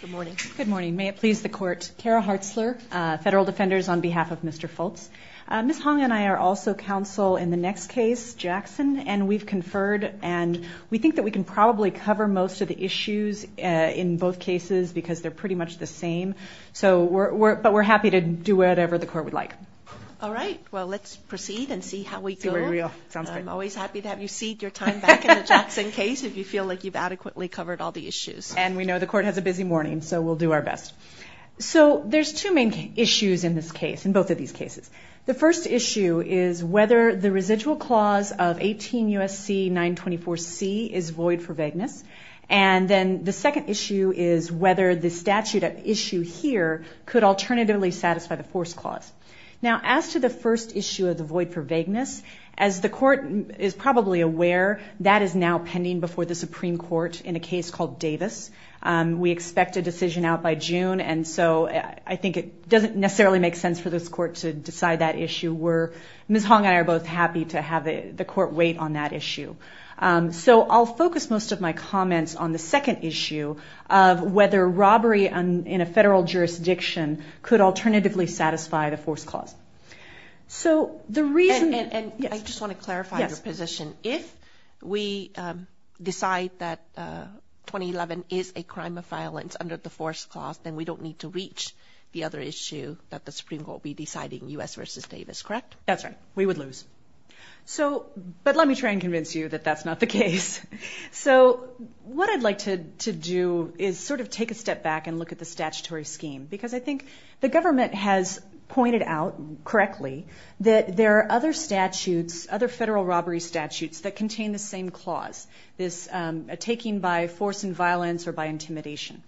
Good morning. Good morning. May it please the Court. Kara Hartzler, Federal Defenders, on behalf of Mr. Fultz. Ms. Hong and I are also counsel in the next case, Jackson, and we've conferred and we think that we can probably cover most of the issues in both cases because they're pretty much the same. But we're happy to do whatever the Court would like. All right. Well, let's proceed and see how we go. I'm always happy to have you cede your time back in the Jackson case if you feel like you've adequately covered all the issues. And we know the Court has a busy morning, so we'll do our best. So there's two main issues in this case, in both of these cases. The first issue is whether the residual clause of 18 U.S.C. 924C is void for vagueness, and then the second issue is whether the statute at issue here could alternatively satisfy the force clause. Now, as to the first issue of the void for vagueness, as the Court is probably aware, that is now pending before the Supreme Court in a case called Davis. We expect a decision out by June, and so I think it doesn't necessarily make sense for this Court to decide that issue. Ms. Hong and I are both happy to have the Court wait on that issue. So I'll focus most of my comments on the second issue of whether robbery in a federal jurisdiction could alternatively satisfy the force clause. And I just want to clarify your position. If we decide that 2011 is a crime of violence under the force clause, then we don't need to reach the other issue that the Supreme Court will be deciding, U.S. v. Davis, correct? That's right. We would lose. But let me try and convince you that that's not the case. So what I'd like to do is sort of take a step back and look at the statutory scheme, because I think the government has pointed out correctly that there are other statutes, other federal robbery statutes that contain the same clause, this taking by force and violence or by intimidation.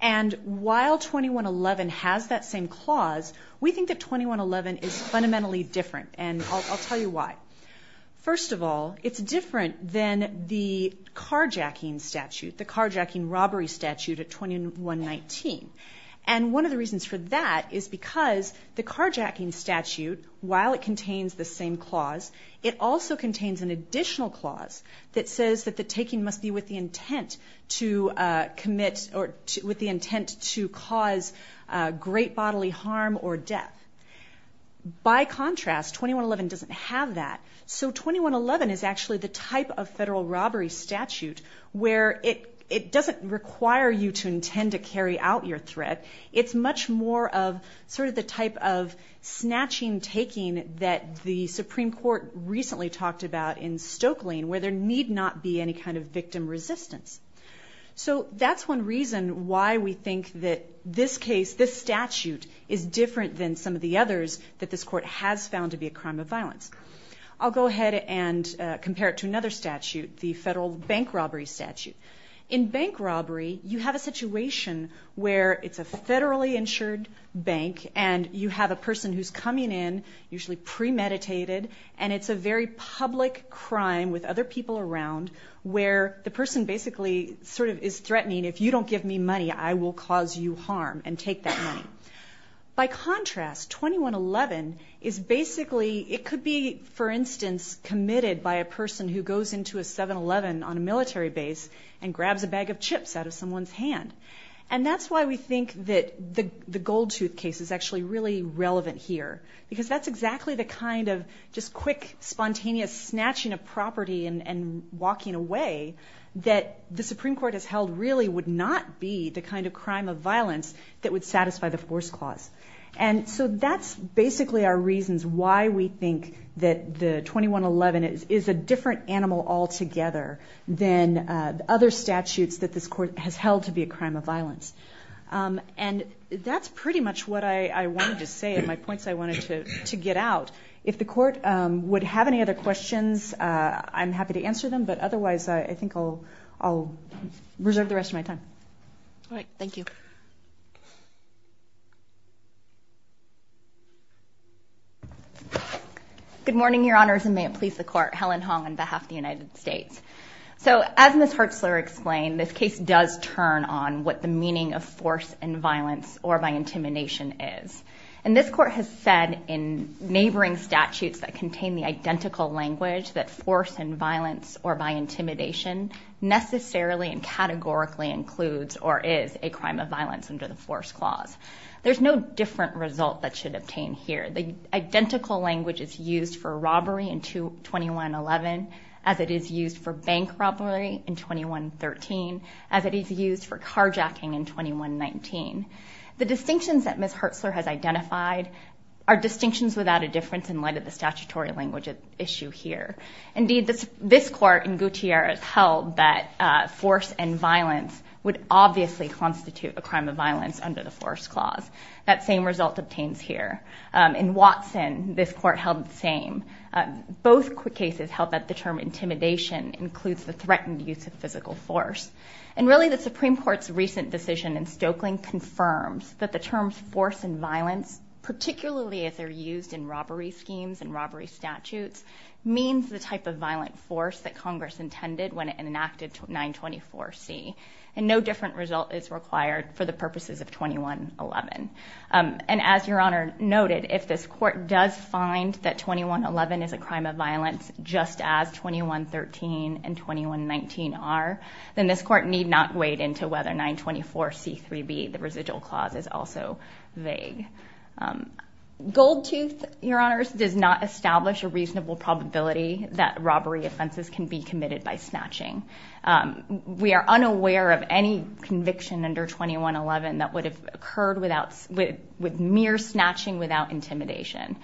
And while 2111 has that same clause, we think that 2111 is fundamentally different, and I'll tell you why. First of all, it's different than the carjacking statute, the carjacking robbery statute of 2119. And one of the reasons for that is because the carjacking statute, while it contains the same clause, it also contains an additional clause that says that the taking must be with the intent to commit or with the intent to cause great bodily harm or death. By contrast, 2111 doesn't have that. So 2111 is actually the type of federal robbery statute where it doesn't require you to intend to carry out your threat. It's much more of sort of the type of snatching taking that the Supreme Court recently talked about in Stokelyne, where there need not be any kind of victim resistance. So that's one reason why we think that this case, this statute, is different than some of the others that this court has found to be a crime of violence. I'll go ahead and compare it to another statute, the federal bank robbery statute. In bank robbery, you have a situation where it's a federally insured bank, and you have a person who's coming in, usually premeditated, and it's a very public crime with other people around where the person basically sort of is threatening, if you don't give me money, I will cause you harm and take that money. By contrast, 2111 is basically, it could be, for instance, committed by a person who goes into a 7-Eleven on a military base and grabs a bag of chips out of someone's hand. And that's why we think that the gold tooth case is actually really relevant here, because that's exactly the kind of just quick, spontaneous snatching of property and walking away that the Supreme Court has held really would not be the kind of crime of violence that would satisfy the force clause. And so that's basically our reasons why we think that the 2111 is a different animal altogether than other statutes that this court has held to be a crime of violence. And that's pretty much what I wanted to say and my points I wanted to get out. If the court would have any other questions, I'm happy to answer them, but otherwise I think I'll reserve the rest of my time. All right. Thank you. Good morning, Your Honors, and may it please the Court. Helen Hong on behalf of the United States. So as Ms. Hertzler explained, this case does turn on what the meaning of force and violence or by intimidation is. And this court has said in neighboring statutes that contain the identical language that force and violence or by intimidation necessarily and categorically includes or is a crime of violence under the force clause. There's no different result that should obtain here. The identical language is used for robbery in 2111 as it is used for bank robbery in 2113, as it is used for carjacking in 2119. The distinctions that Ms. Hertzler has identified are distinctions without a difference in light of the statutory language at issue here. Indeed, this court in Gutierrez held that force and violence would obviously constitute a crime of violence under the force clause. That same result obtains here. In Watson, this court held the same. Both cases held that the term intimidation includes the threatened use of physical force. And really the Supreme Court's recent decision in Stokelyn confirms that the terms force and violence, particularly if they're used in robbery schemes and robbery statutes, means the type of violent force that Congress intended when it enacted 924C. And no different result is required for the purposes of 2111. And as Your Honor noted, if this court does find that 2111 is a crime of violence, just as 2113 and 2119 are, then this court need not wade into whether 924C3B, the residual clause, is also vague. Goldtooth, Your Honors, does not establish a reasonable probability that robbery offenses can be committed by snatching. We are unaware of any conviction under 2111 that would have occurred with mere snatching without intimidation.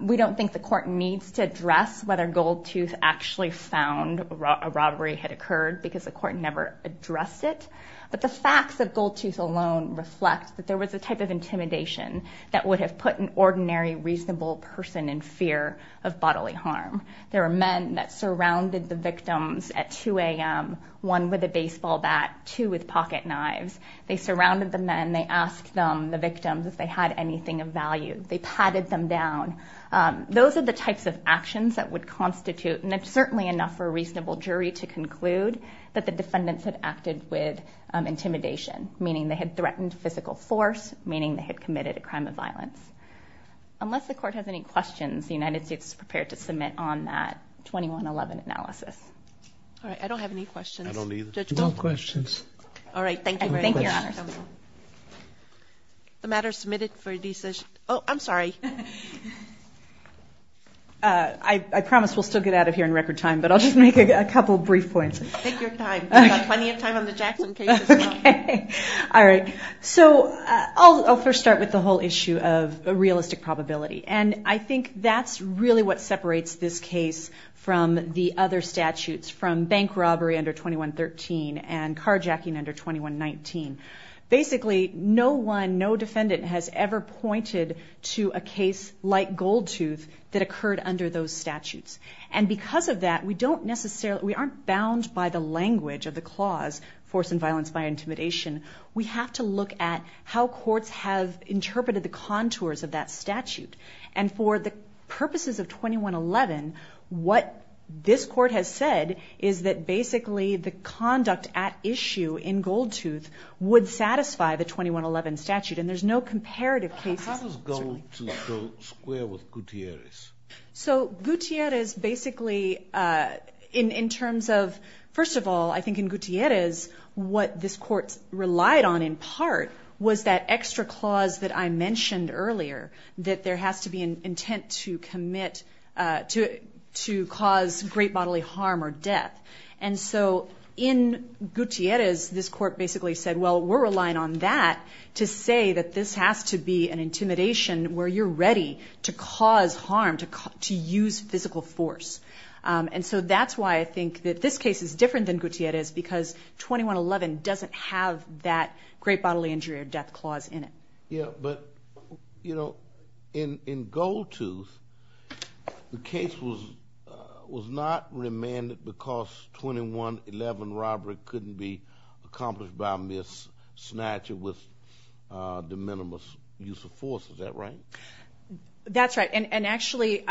We don't think the court needs to address whether Goldtooth actually found a robbery had occurred because the court never addressed it. But the facts of Goldtooth alone reflect that there was a type of intimidation that would have put an ordinary, reasonable person in fear of bodily harm. There were men that surrounded the victims at 2 a.m., one with a baseball bat, two with pocket knives. They surrounded the men. They asked them, the victims, if they had anything of value. They patted them down. Those are the types of actions that would constitute, and certainly enough for a reasonable jury to conclude, that the defendants had acted with intimidation, meaning they had threatened physical force, meaning they had committed a crime of violence. Unless the court has any questions, the United States is prepared to submit on that 2111 analysis. All right, I don't have any questions. I don't either. No questions. All right, thank you very much. Thank you, Your Honors. The matter is submitted for decision. Oh, I'm sorry. I promise we'll still get out of here in record time, but I'll just make a couple brief points. Take your time. We've got plenty of time on the Jackson case as well. Okay. All right. So I'll first start with the whole issue of realistic probability, and I think that's really what separates this case from the other statutes, from bank robbery under 2113 and carjacking under 2119. Basically, no one, no defendant has ever pointed to a case like Goldtooth that occurred under those statutes. And because of that, we don't necessarily, we aren't bound by the language of the clause, force and violence by intimidation. We have to look at how courts have interpreted the contours of that statute. And for the purposes of 2111, what this court has said is that basically the conduct at issue in Goldtooth would satisfy the 2111 statute, and there's no comparative cases. How does Goldtooth go square with Gutierrez? So Gutierrez basically, in terms of, first of all, I think in Gutierrez, what this court relied on in part was that extra clause that I mentioned earlier, that there has to be an intent to commit to cause great bodily harm or death. And so in Gutierrez, this court basically said, well, we're relying on that to say that this has to be an intimidation where you're ready to cause harm, to use physical force. And so that's why I think that this case is different than Gutierrez, because 2111 doesn't have that great bodily injury or death clause in it. Yeah, but, you know, in Goldtooth, the case was not remanded because 2111 robbery couldn't be accomplished by a mis-snatcher with de minimis use of force. Is that right? That's right. And actually,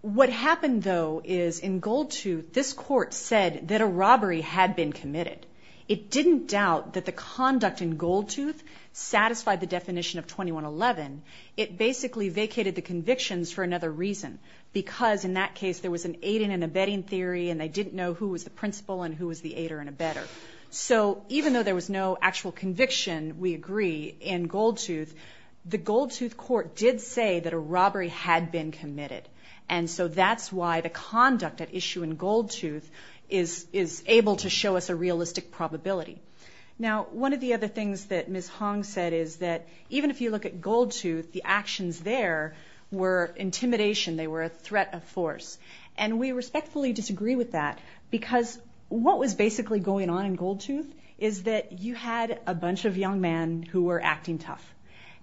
what happened, though, is in Goldtooth, this court said that a robbery had been committed. It didn't doubt that the conduct in Goldtooth satisfied the definition of 2111. It basically vacated the convictions for another reason, because in that case there was an aiding and abetting theory and they didn't know who was the principal and who was the aider and abetter. So even though there was no actual conviction, we agree, in Goldtooth, the Goldtooth court did say that a robbery had been committed. And so that's why the conduct at issue in Goldtooth is able to show us a realistic probability. Now, one of the other things that Ms. Hong said is that even if you look at Goldtooth, the actions there were intimidation, they were a threat of force. And we respectfully disagree with that, because what was basically going on in Goldtooth is that you had a bunch of young men who were acting tough.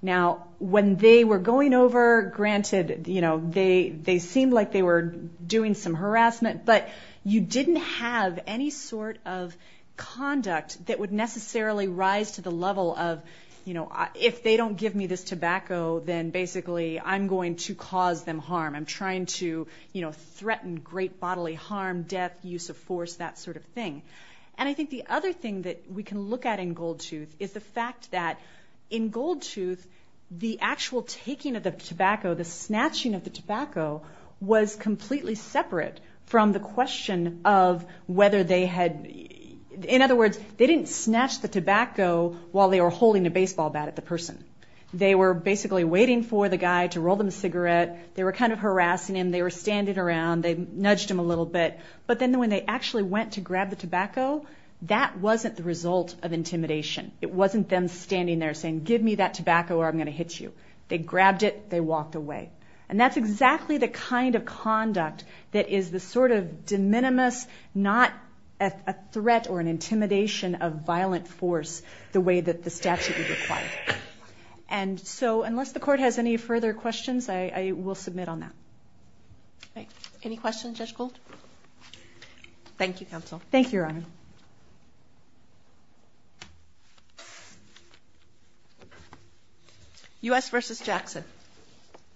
Now, when they were going over, granted, you know, they seemed like they were doing some harassment, but you didn't have any sort of conduct that would necessarily rise to the level of, you know, if they don't give me this tobacco, then basically I'm going to cause them harm. I'm trying to, you know, threaten great bodily harm, death, use of force, that sort of thing. And I think the other thing that we can look at in Goldtooth is the fact that in Goldtooth the actual taking of the tobacco, the snatching of the tobacco was completely separate from the question of whether they had, in other words, they didn't snatch the tobacco while they were holding a baseball bat at the person. They were basically waiting for the guy to roll them a cigarette. They were kind of harassing him. They were standing around. They nudged him a little bit. But then when they actually went to grab the tobacco, that wasn't the result of intimidation. It wasn't them standing there saying, give me that tobacco or I'm going to hit you. They grabbed it. They walked away. And that's exactly the kind of conduct that is the sort of de minimis, not a threat or an intimidation of violent force the way that the statute would require. And so unless the court has any further questions, I will submit on that. All right. Any questions, Judge Gold? Thank you, counsel. Thank you, Robin. U.S. versus Jackson.